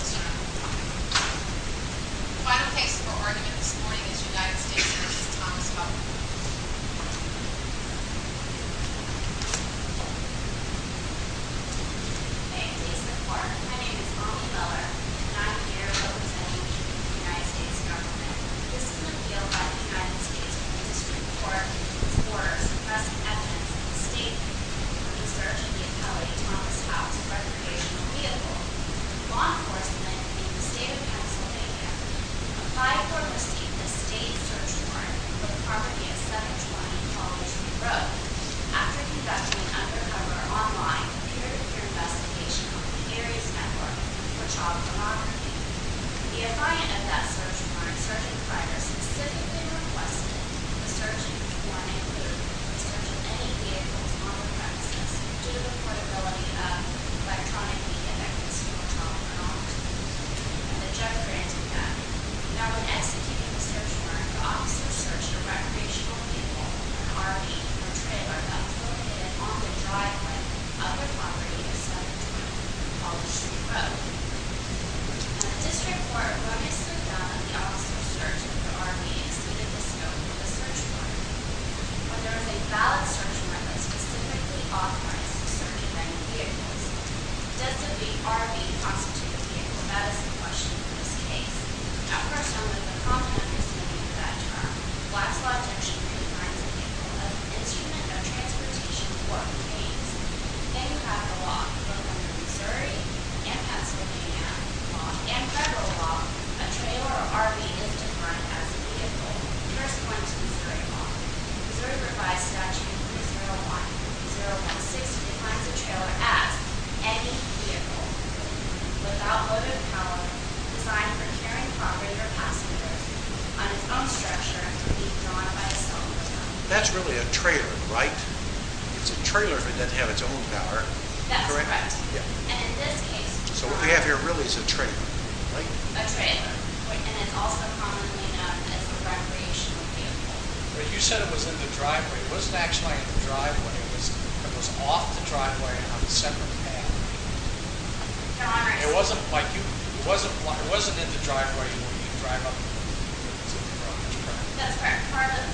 Final case for argument this morning is v. United States v. Thomas Houck Thank you, Mr. Court. My name is Molly Meller, and I'm here representing the United States government. This is an appeal by the United States District Court for suppressing evidence of a statement of the search of the appellate Thomas Houck's recreational vehicle. Law enforcement in the state of Pennsylvania applied for or received a state search warrant for the property of 720 College Street Road. After conducting an undercover online peer-to-peer investigation on the Harry's Network for child pornography, the appliant of that search warrant's search inquirer specifically requested the search warrant include the search of any vehicles on the premises due to the portability of electronically-affected school child pornography, and the judge granted that. Now in executing the search warrant, the officer searched a recreational vehicle, an RV, or trailer that was located on the driveway of the property of 720 College Street Road. In the district court, when it's found that the officer's search for the RV exceeded the scope of the search warrant, or there was a valid search warrant that specifically authorized the search of any vehicles, does the RV constitute a vehicle? That is the question in this case. Of course, only the prominent recipient of that term, Black's Law Junction, can find the vehicle as an instrument of transportation for the case. If you think about the law, both in Missouri and Pennsylvania, law and federal law, a trailer or RV is defined as a vehicle, corresponding to Missouri law. The Missouri Revised Statute 301 and 301-6 defines a trailer as any vehicle, with outloaded power, designed for carrying property or passengers, on its own structure, to be drawn by a self-propelled gun. That's really a trailer, right? It's a trailer if it didn't have its own power, correct? That's correct. And in this case... So what we have here really is a trailer, right? A trailer. And it's also commonly known as a recreational vehicle. But you said it was in the driveway. It wasn't actually in the driveway. It was off the driveway on a separate path. Your Honor... It wasn't in the driveway when you drive up to the property. That's correct.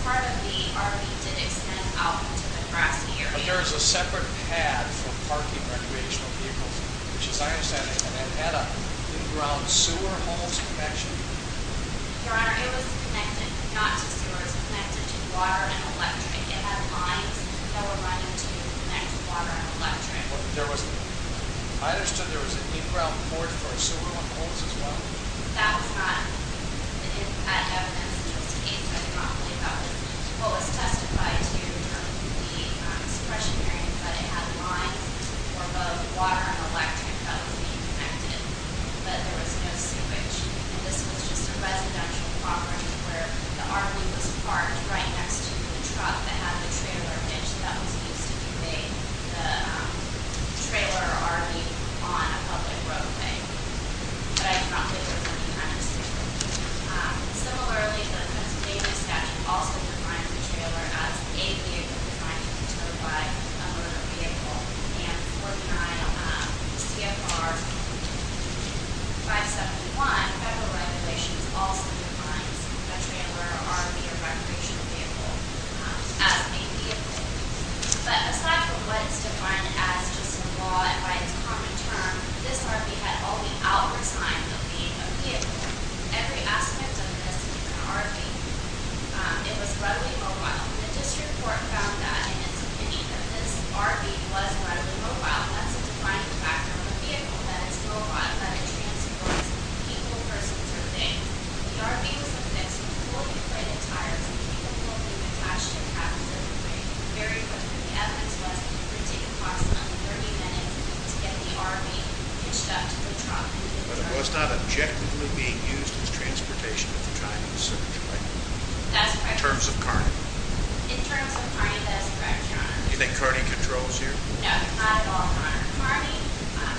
Part of the RV did extend out into the grassy area. But there is a separate path for parking recreational vehicles, which, as I understand it, had an in-ground sewer hose connection. Your Honor, it was connected not to sewers. It was connected to water and electric. It had lines that were running to connect water and electric. I understood there was an in-ground port for a sewer hose as well. That was not evidence in this case. I do not believe that was the case. What was testified to from the suppression hearing is that it had lines for both water and electric that was being connected, but there was no sewage. And this was just a residential property where the RV was parked right next to the truck that had the trailer hitch that was used to convey the trailer or RV on a public roadway. But I do not believe it was any kind of sewage. Similarly, the Pennsylvania statute also defines a trailer as a vehicle defined by a motor vehicle. And 49 CFR 571, Federal Regulations, also defines a trailer or RV or recreational vehicle as a vehicle. But aside from what is defined as just a law and by its common term, this RV had only hours' time of being a vehicle. Every aspect of this RV, it was readily mobile. The district court found that in its opinion that this RV was readily mobile. That's a defining factor of a vehicle, that it's mobile, that it transports people, persons, or things. The RV was affixed with fully inflated tires and people could be attached to cabs in a very quick way. The evidence was that it would take approximately 30 minutes to get the RV hitched up to the truck. But it was not objectively being used as transportation at the time of the search, right? That's correct. In terms of Kearney? In terms of Kearney, that is correct, Your Honor. Do you think Kearney controls here? No, not at all, Your Honor.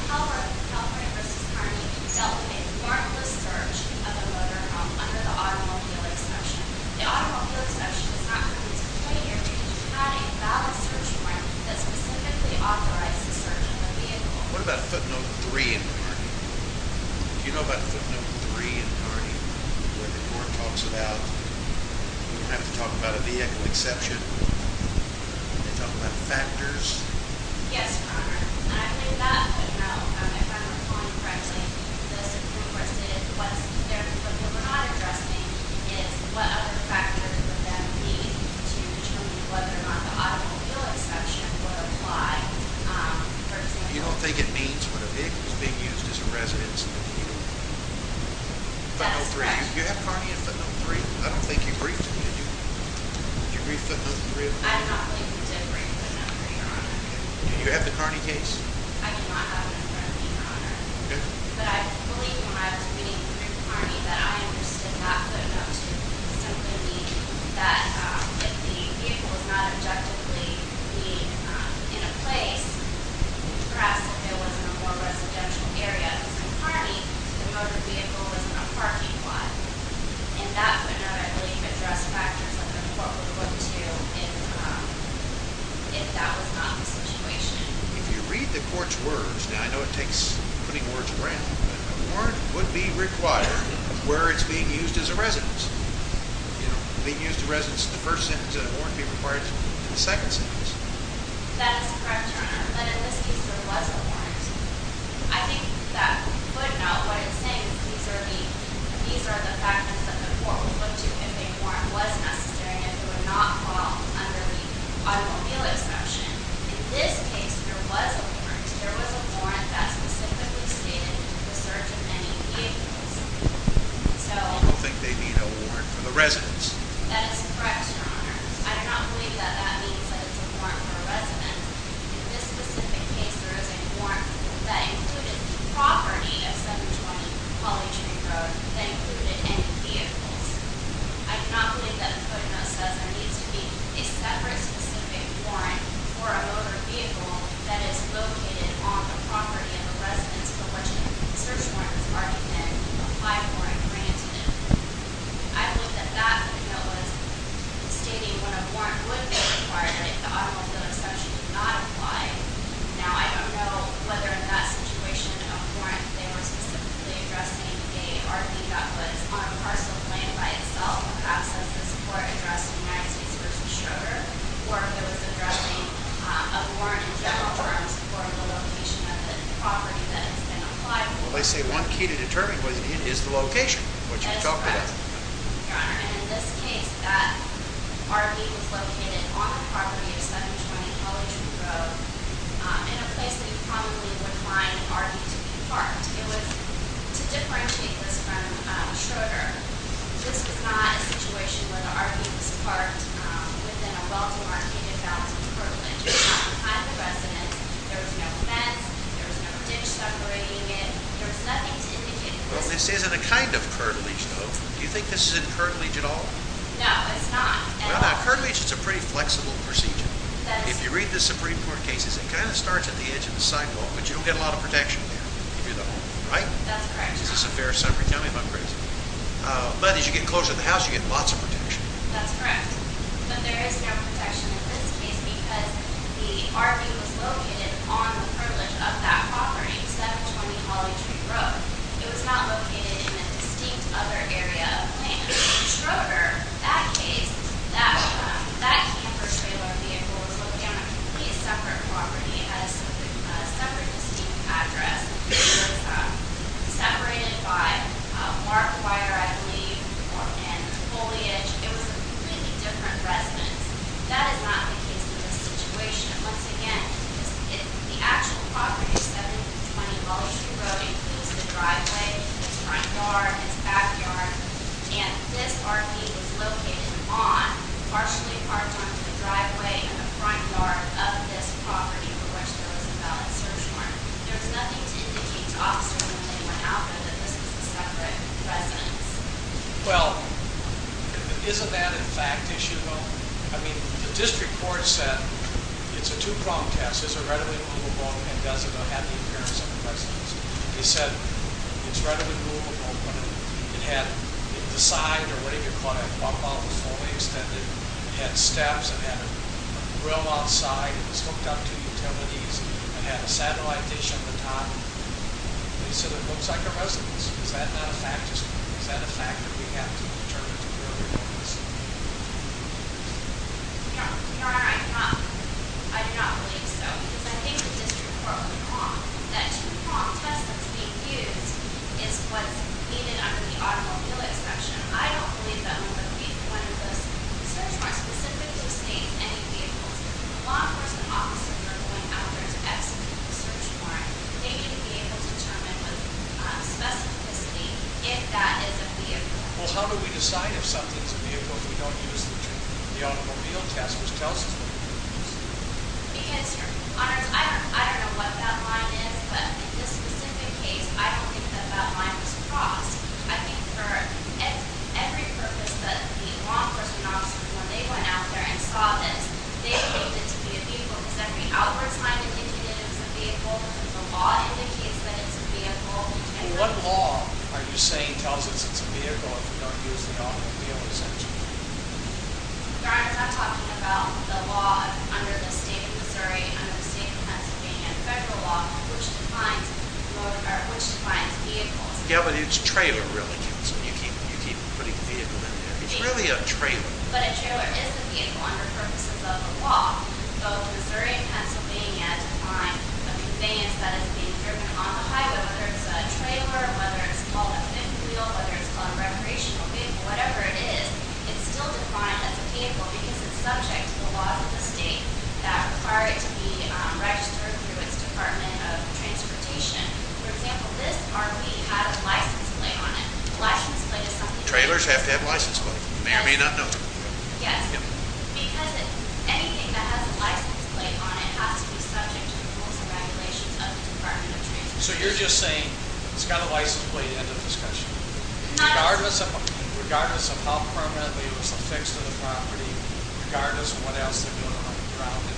California v. Kearney dealt with a marvelous search of a motor home under the automobile exception. The automobile exception is not covered in this complaint here because we're not a valid search warrant that specifically authorized the search of a vehicle. What about footnote 3 in Kearney? Do you know about footnote 3 in Kearney where the court talks about, you don't have to talk about a vehicle exception, they talk about factors? Yes, Your Honor, and I believe that footnote, if I'm recalling correctly, the Supreme Court says what we're not addressing is what other factors would that mean to determine whether or not the automobile exception would apply, for example. You don't think it means what a vehicle is being used as a residence in Kearney? That's correct. You have Kearney in footnote 3? I don't think you briefed it, did you? Did you brief footnote 3? I do not believe we did brief footnote 3, Your Honor. Do you have the Kearney case? I do not have it in front of me, Your Honor. Okay. But I believe when I was reading through Kearney that I understood that footnote to simply mean that if the vehicle was not objectively being in a place, perhaps if it was in a more residential area in Kearney, the motor vehicle was in a parking lot. And that footnote, I believe, addressed factors that the court would look to if that was not the situation. If you read the court's words, now I know it takes putting words around, a warrant would be required where it's being used as a residence. You know, being used as a residence in the first sentence, a warrant would be required in the second sentence. That is correct, Your Honor. But in this case, there was a warrant. I think that footnote, what it's saying, these are the factors that the court would look to if a warrant was necessary and it would not fall under the automobile exception. In this case, there was a warrant. There was a warrant that specifically stated that it would serve to many vehicles. So- I don't think they need a warrant for the residence. That is correct, Your Honor. I do not believe that that means that it's a warrant for a residence. In this specific case, there is a warrant that included the property of 720 College Way Road that included any vehicles. I do not believe that the footnote says there needs to be a separate specific warrant for a motor vehicle that is located on the property of a residence for which a search warrant is already been applied for and granted. I believe that that footnote was stating when a warrant would be required if the automobile exception did not apply. Now, I don't know whether in that situation a warrant they were specifically addressing a RV that was on a parcel of land by itself, perhaps, was the support addressed in United States v. Schroeder, or if it was addressing a warrant in general terms for the location of the property that has been applied for. Well, they say one key to determine what it is is the location, which you talked about. That is correct, Your Honor. And in this case, that RV was located on the property of 720 College Road in a place that you probably would find RV to be parked. It was to differentiate this from Schroeder. This was not a situation where the RV was parked within a well-demarcated balance of curtilage. It was not behind the residence. There was no fence. There was no ditch separating it. There was nothing to indicate this. Well, this isn't a kind of curtilage, though. Do you think this is in curtilage at all? No, it's not at all. No, curtilage is a pretty flexible procedure. If you read the Supreme Court cases, it kind of starts at the edge of the sidewalk, but you don't get a lot of protection there. Right? That's correct, Your Honor. Is this a fair summary? Tell me if I'm crazy. But as you get closer to the house, you get lots of protection. That's correct. But there is no protection in this case because the RV was located on the curtilage of that property, 720 College Road. It was not located in a distinct other area of land. In Schroeder, that case, that camper trailer vehicle was located on a completely separate property at a separate distinct address. It was separated by barbed wire, I believe, and foliage. It was a completely different residence. That is not the case in this situation. Once again, the actual property, 720 College Road, includes the driveway, its front yard, its back yard. And this RV was located on, partially parked onto the driveway, the front yard of this property for which there was a valid search warrant. There was nothing to indicate to officers or anyone out there that this was a separate residence. Well, isn't that a fact issue? Well, I mean, the district court said it's a two-pronged test. It's a readily moveable and doesn't have the appearance of a residence. They said it's readily moveable, but it had the side or whatever you call it, bump out the foliage. It had steps. It had a grill outside. It was hooked up to utilities. It had a satellite dish at the top. They said it looks like a residence. Is that not a fact? Is that a fact that we have to interpret? Your Honor, I do not believe so because I think the district court was wrong. That two-pronged test that's being used is what's needed under the automobile exception. I don't believe that would be one of the search warrants specific to state any vehicles. When law enforcement officers are going out there to execute a search warrant, they need to be able to determine with specificity if that is a vehicle. Well, how do we decide if something is a vehicle if we don't use the automobile test? Ms. Chelsis, what do you think? Because, Your Honor, I don't know what that line is, but in this specific case, I don't think that that line was crossed. I think for every purpose that the law enforcement officers, when they went out there and saw this, they believed it to be a vehicle because every outward sign indicated it was a vehicle. The law indicates that it's a vehicle. Well, what law are you saying tells us it's a vehicle if we don't use the automobile exception? Your Honor, I'm talking about the law under the state of Missouri, under the state of Pennsylvania, the federal law, which defines vehicles. Yeah, but it's a trailer, really. You keep putting vehicle in there. It's really a trailer. But a trailer is a vehicle under purposes of the law. Both Missouri and Pennsylvania define a conveyance that is being driven on the highway, whether it's a trailer, whether it's called a fifth wheel, whether it's called a recreational vehicle, whatever it is, it's still defined as a vehicle because it's subject to the laws of the state that require it to be registered through its Department of Transportation. For example, this RV had a license plate on it. A license plate is something that's required. You may or may not know that. Yes. Because anything that has a license plate on it has to be subject to the rules and regulations of the Department of Transportation. So you're just saying it's got a license plate, end of discussion. Regardless of how permanently it was affixed to the property, regardless of what else they're doing around it,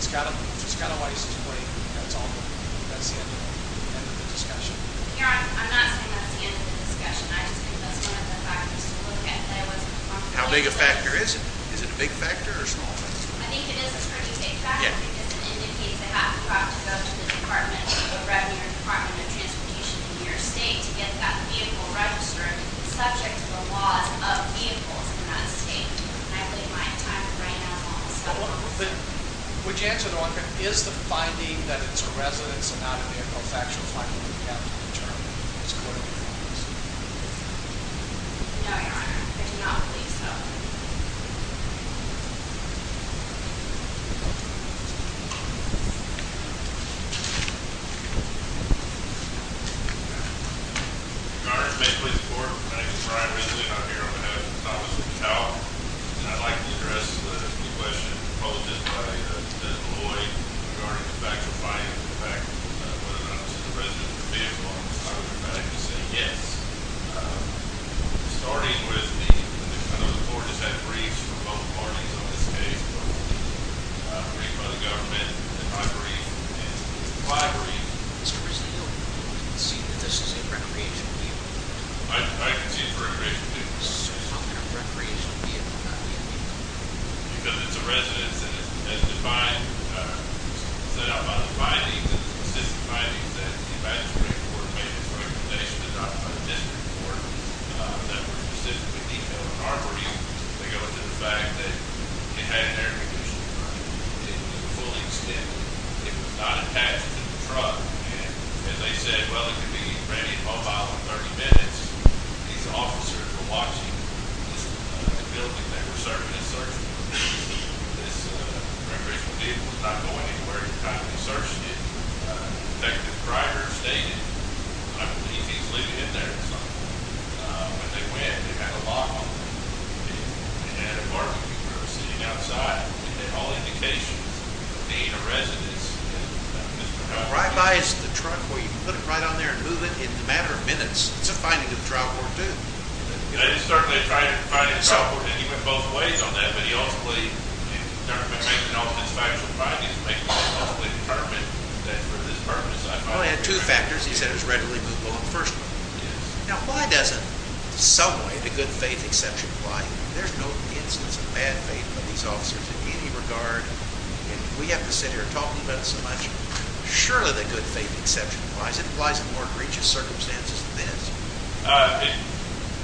it's got a license plate and that's all there. That's the end of the discussion. Your Honor, I'm not saying that's the end of the discussion. I just think that's one of the factors to look at. How big a factor is it? Is it a big factor or a small factor? I think it is a pretty big factor because it indicates they have to go to the Department of Revenue or the Department of Transportation in your state to get that vehicle registered. It's subject to the laws of vehicles in our state. I believe my time right now is almost up. Would you answer the one, is the finding that it's a residence and not a vehicle is a factual finding that you have to determine as a court of appeals? No, Your Honor. I do not believe so. Your Honor, may it please the Court, my name is Brian Ridley. I'm here on behalf of the Office of Child and I'd like to address the question by Senator Boyd regarding the factual finding of the fact that whether or not it's a residence or a vehicle. I would like to say yes. Starting with the, I know the Court has had briefs from both parties on this case, but a brief by the government and my brief and five briefs. Mr. Rizzio, do you concede that this is a recreational vehicle? I concede it's a recreational vehicle. So how can a recreational vehicle not be a vehicle? Because it's a residence and it's defined, set out by the findings, the consistent findings that the advisory board made in its recommendation to the district court that were consistent with vehicle and armory. They go into the fact that it had an air conditioning on it. It was fully extended. It was not attached to the truck. And as I said, well, it could be ready and mobile in 30 minutes. These officers were watching the building they were searching and searching for. This recreational vehicle was not going anywhere. They were constantly searching it. In fact, the driver stayed in it. I believe he's leaving it there at some point. When they went, they had a lock on it. They had a parking meter sitting outside. They had all indications of being a residence. Right by is the truck where you put it right on there and move it in a matter of minutes. It's a finding of the trial court, too. It's certainly a finding of the trial court. He went both ways on that, but he ultimately determined based on all of his factual findings, he ultimately determined that for this purpose. Well, he had two factors. He said it was readily movable in the first place. Now, why doesn't some way the good faith exception apply? There's no instance of bad faith in these officers in any regard. We have to sit here talking about it so much. Surely the good faith exception applies. It applies in more egregious circumstances than this.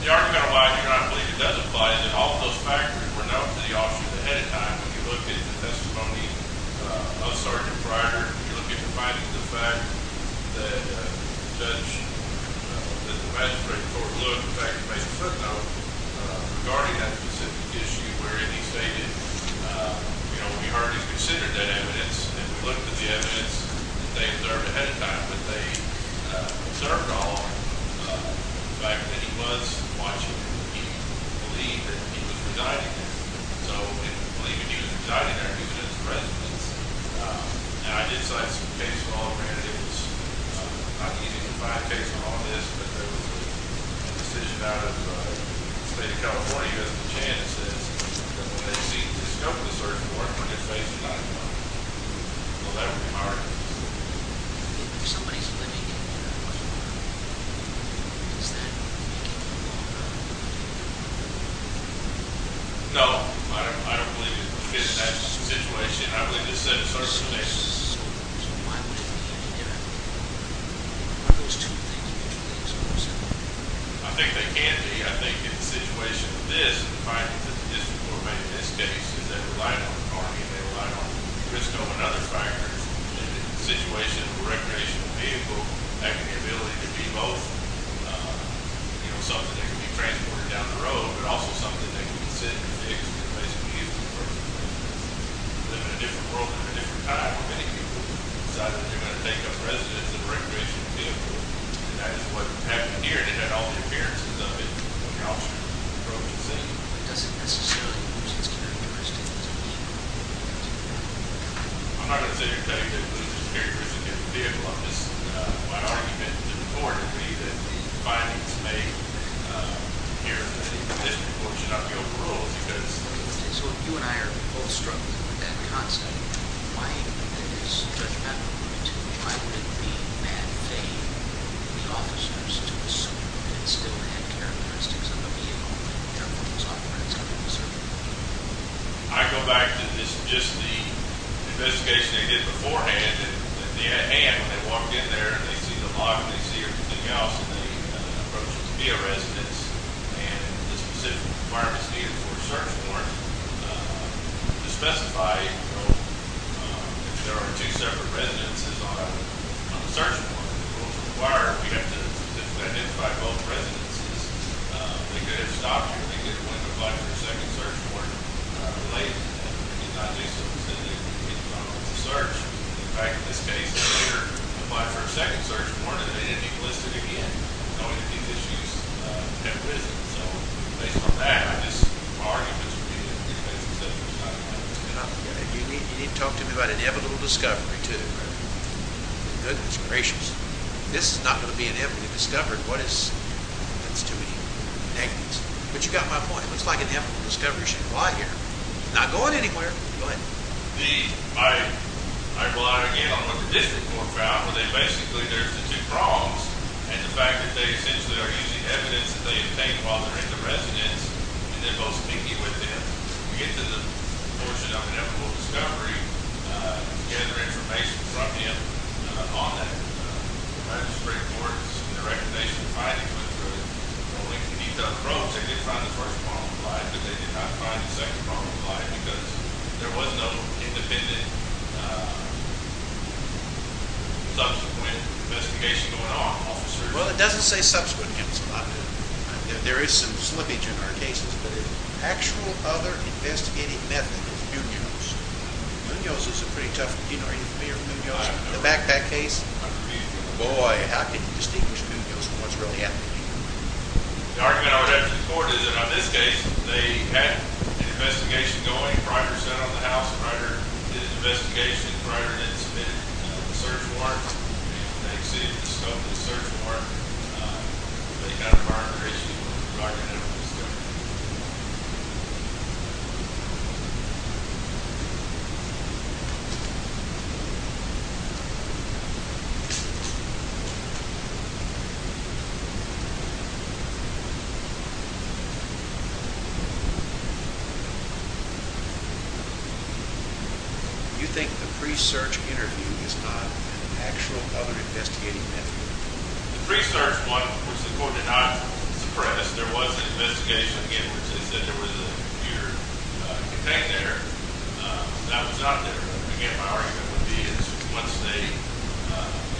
The argument of why I do not believe it does apply is that all of those factors were known to the officers ahead of time. If you look at the testimony of Sergeant Pryor, if you look at the findings of the fact that the magistrate in Fort Lewis, in fact, made a footnote regarding that specific issue wherein he stated, you know, we already considered that evidence, and we looked at the evidence that they observed ahead of time, but they observed on the fact that he was watching and he believed that he was presiding there. So we believe he was presiding there because he was the president. Now, I did cite some case law. Granted, it was not easy to find case law on this, but there was a decision out of the State of California, as Janice says, that when they discover the search warrant for good faith, it's not enough. Well, that would be hard. If somebody's living in that apartment, does that mean they can't walk around? No. I don't believe it fits that situation. I believe it's set in certain conditions. So why wouldn't they be able to get out? Are those two things mutually exclusive? I think they can be. I think in the situation of this, and the findings of the district court made in this case, is they relied on the Army and they relied on Crisco and other fighters. And in the situation of a recreational vehicle, having the ability to be both, you know, something that can be transported down the road, but also something that can be sitting in a vehicle and can basically be used for personal purposes. Living in a different world at a different time, many people have decided that they're going to take up residence in a recreational vehicle, and that is what happened here. They had all the appearances of it when the officer drove the scene. But does it necessarily lose its characteristics of being a recreational vehicle? I'm not going to say it does lose its characteristics of being a vehicle. I'm just, my argument, the report, would be that the findings made here in the district court should not be overruled because— So if you and I are both struggling with that concept, why is Judge Maddow going to try to be in bad faith with the officers to assume that it still had characteristics of a vehicle that they're both authorized to be serving? I go back to just the investigation they did beforehand, and when they walked in there and they see the log, and they see everything else, and they approach it to be a residence, and the specific requirements needed for a search warrant to specify if there are two separate residences on the search warrant. Well, if required, you have to identify both residences. They could have stopped you. They could have went and applied for a second search warrant related to that. They could not do so, because they didn't complete the search. In fact, in this case, they later applied for a second search warrant, and they didn't get listed again, knowing that these issues had risen. So, based on that, I just argue that you need to investigate the subject of the crime. You need to talk to me about inevitable discovery, too. Goodness gracious. This is not going to be an evident discovery. What is? That's too many negatives. But you got my point. It looks like an evident discovery should apply here. I'm not going anywhere. Go ahead. I rely, again, on what the district court found, where basically there's the two prongs, and the fact that they essentially are using evidence that they obtained while they're in the residence, and they're both speaking with him. When we get to the portion of inevitable discovery, to gather information from him on that, the district court's recommendation to finally put through it. Only, when he found the prongs, they did find the first prong applied, but they did not find the second prong applied, because there was no independent, subsequent investigation going on, officer. Well, it doesn't say subsequent. There is some slippage in our cases, but an actual other investigating method is Munoz. Munoz is a pretty tough, you know, are you familiar with Munoz? The backpack case? Boy, how can you distinguish Munoz from what's really happening? The argument I would have to support is that on this case, they had an investigation going prior, set on the house prior to this investigation, prior to them submitting the search warrant. They received the scope of the search warrant, but they got a prior appraisal prior to them doing the search. Do you think the pre-search interview is not an actual other investigating method? The pre-search one, which the court did not suppress, there was an investigation, again, which they said there was a computer connect there. That was not there. Again, my argument would be is, once they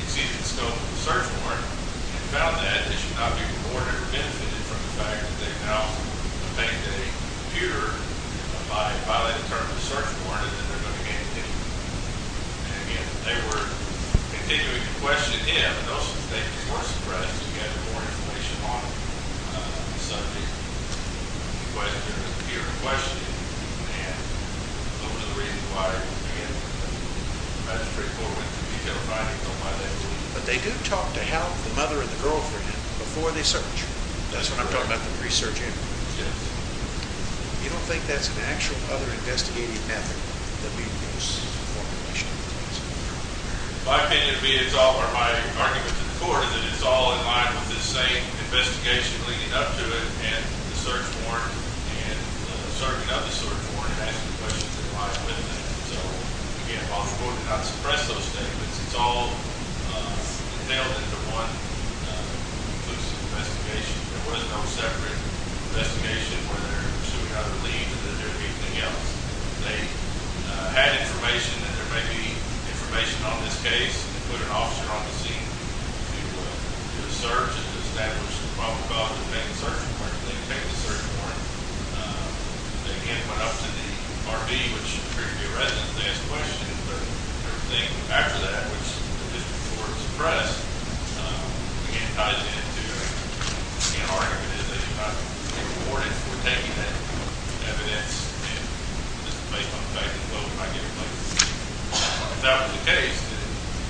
received the scope of the search warrant, and found that, they should not be rewarded or benefited from the fact that they now obtained a computer by violating the terms of the search warrant, and then they're going to get a date. And again, they were continuing to question him, and also the state was more surprised that he had more information on the subject. He questioned him, and appeared to question him, and that was another reason why, again, the magistrate court went to detail writing on my name. But they do talk to Hal, the mother and the girlfriend, before they search. That's what I'm talking about, the pre-search interview. Yes. You don't think that's an actual other investigating method than being used in the formulation of the case? My opinion would be, it's all part of my argument to the court, that it's all in line with the same investigation leading up to it, and the search warrant, and the sergeant of the search warrant asking questions that are in line with it. So, again, while the court did not suppress those statements, it's all entailed into one inclusive investigation. There was no separate investigation where they're pursuing either leave or anything else. They had information, and there may be information on this case, and they put an officer on the scene to do a search and to establish the probable cause of taking the search warrant. They could take the search warrant. They, again, put it up to the RV, which appeared to be a resident, to ask questions. The third thing after that, which the district court suppressed, again, ties into, again, our argument is that you're not being rewarded for taking that evidence, and this is based on the fact that both might get replaced. If that was the case, then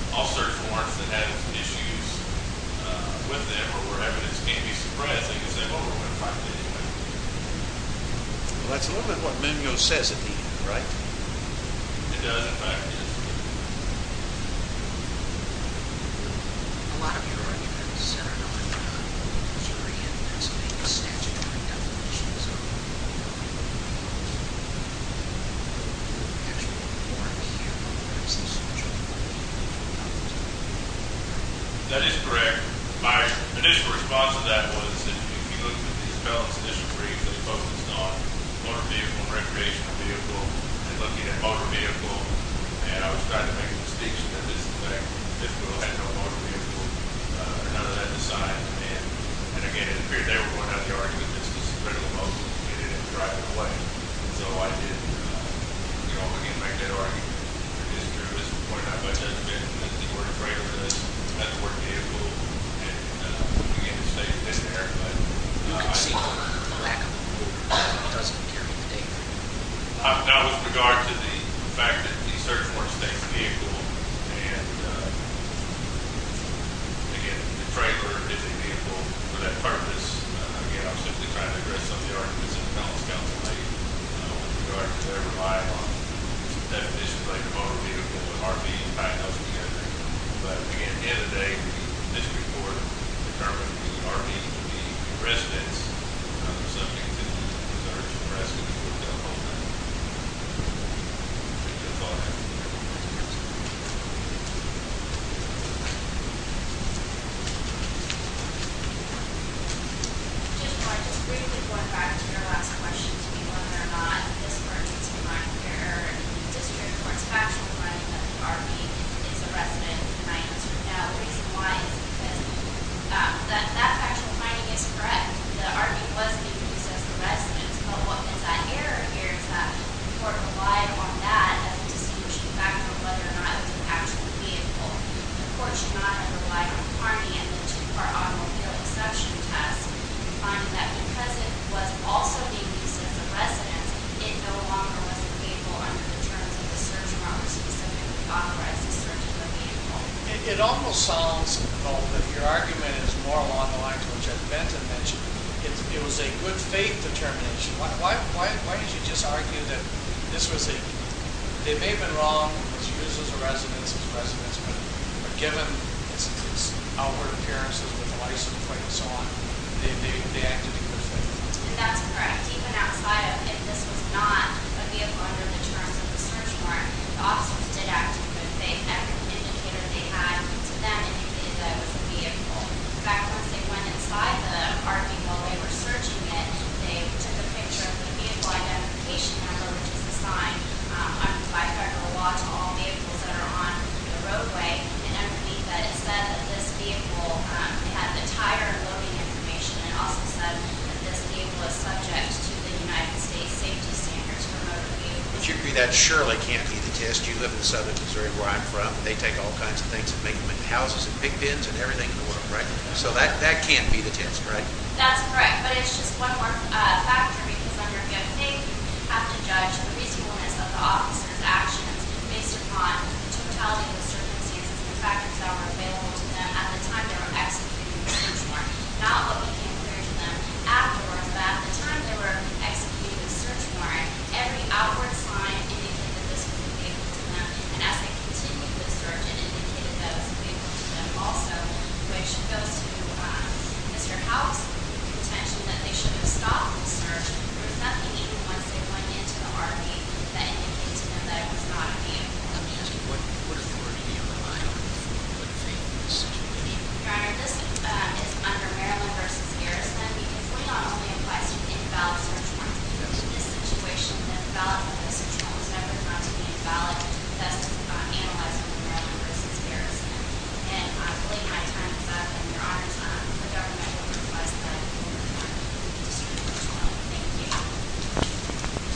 all search warrants that had issues with them or were evidence can't be suppressed because they've overrun the fact anyway. Well, that's a little bit what Munoz says it did, right? It does, in fact, yes. A lot of your arguments centered on jury evidence and the statutory definitions of the actual warrant here. That is correct. My initial response to that was that if you look at these felon's district briefs, those focused on motor vehicle and recreational vehicle and looking at motor vehicle, and I was trying to make a distinction that this girl had no motor vehicle. None of that decided, and, again, it appeared they were going to have the argument that this was a critical motor, and it didn't drive the plane. So I did, you know, again, make that argument. It is true. At this point, I'd like to admit that the word trailer does have the word vehicle, and, again, the state's been there, but... You can see the lack of a warrant that doesn't carry the data. Now, with regard to the fact that the search warrants state the vehicle, and, again, the trailer is a vehicle for that purpose, again, I'm simply trying to address some of the arguments that the felon's counsel made with regard to their reliance on definitions like motor vehicle and RV, and tying those together. But, again, at the end of the day, this report determined the RV to be in residence. They're subject to the search and rescue. That's all I have to say. Just briefly going back to your last question to be whether or not this were a case of minor error in the district court's factual finding that the RV is a resident, and I answered no. The reason why is because that factual finding is correct. The RV was being used as a residence, but what makes that error here is that the court relied on that as a distinguishing factor of whether or not it was an actual vehicle. The court should not have relied on the RV and the two-car automobile exception test to find that because it was also being used as a residence, it no longer was a vehicle under the terms of the search promises that we authorized the search of a vehicle. It almost sounds, though, that your argument is more along the lines of what you had meant to mention. It was a good faith determination. Why did you just argue that this was a... They may have been wrong to use it as a residence, but given its outward appearances with the license plate and so on, they acted in good faith. And that's correct. Even outside of if this was not a vehicle under the terms of the search warrant, the officers did act in good faith. Every indicator they had to them indicated that it was a vehicle. In fact, once they went inside the RV while they were searching it, they took a picture of the vehicle identification number, which is the sign. I've talked a lot to all vehicles that are on the roadway, and I believe that it said that this vehicle had the tire loading information and also said that this vehicle is subject to the United States safety standards for motor vehicles. But you agree that surely can't be the test. You live in southern Missouri where I'm from. They take all kinds of things and make them into houses and big bins and everything in the world, right? So that can't be the test, right? That's correct, but it's just one more factor because under a good faith, you have to judge the reasonableness of the officers' actions based upon the totality of the circumstances and the factors that were available to them at the time they were executing the search warrant, not what became clear to them afterwards. At the time they were executing the search warrant, every outward sign indicated that this was a vehicle to them, and as they continued the search, it indicated that it was a vehicle to them also, which goes to Mr. Howell's contention that they should have stopped the search and there was nothing even once they went into the RV that indicated to them that it was not a vehicle. Let me ask you, what authority do you rely on for a good faith in this situation? Your Honor, this is under Maryland v. Garrison because we often request in-valid search warrants because in this situation, an invalid search warrant is never found to be invalid unless it's analyzed by Maryland v. Garrison. And late at times, Your Honor, the government will request that the search warrant be found. Thank you.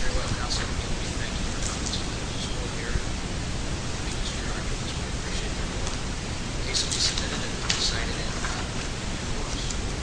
Very well counsel. Thank you for coming. I just want to make this clear. I just want to appreciate everyone who casefully submitted and cited in the forums.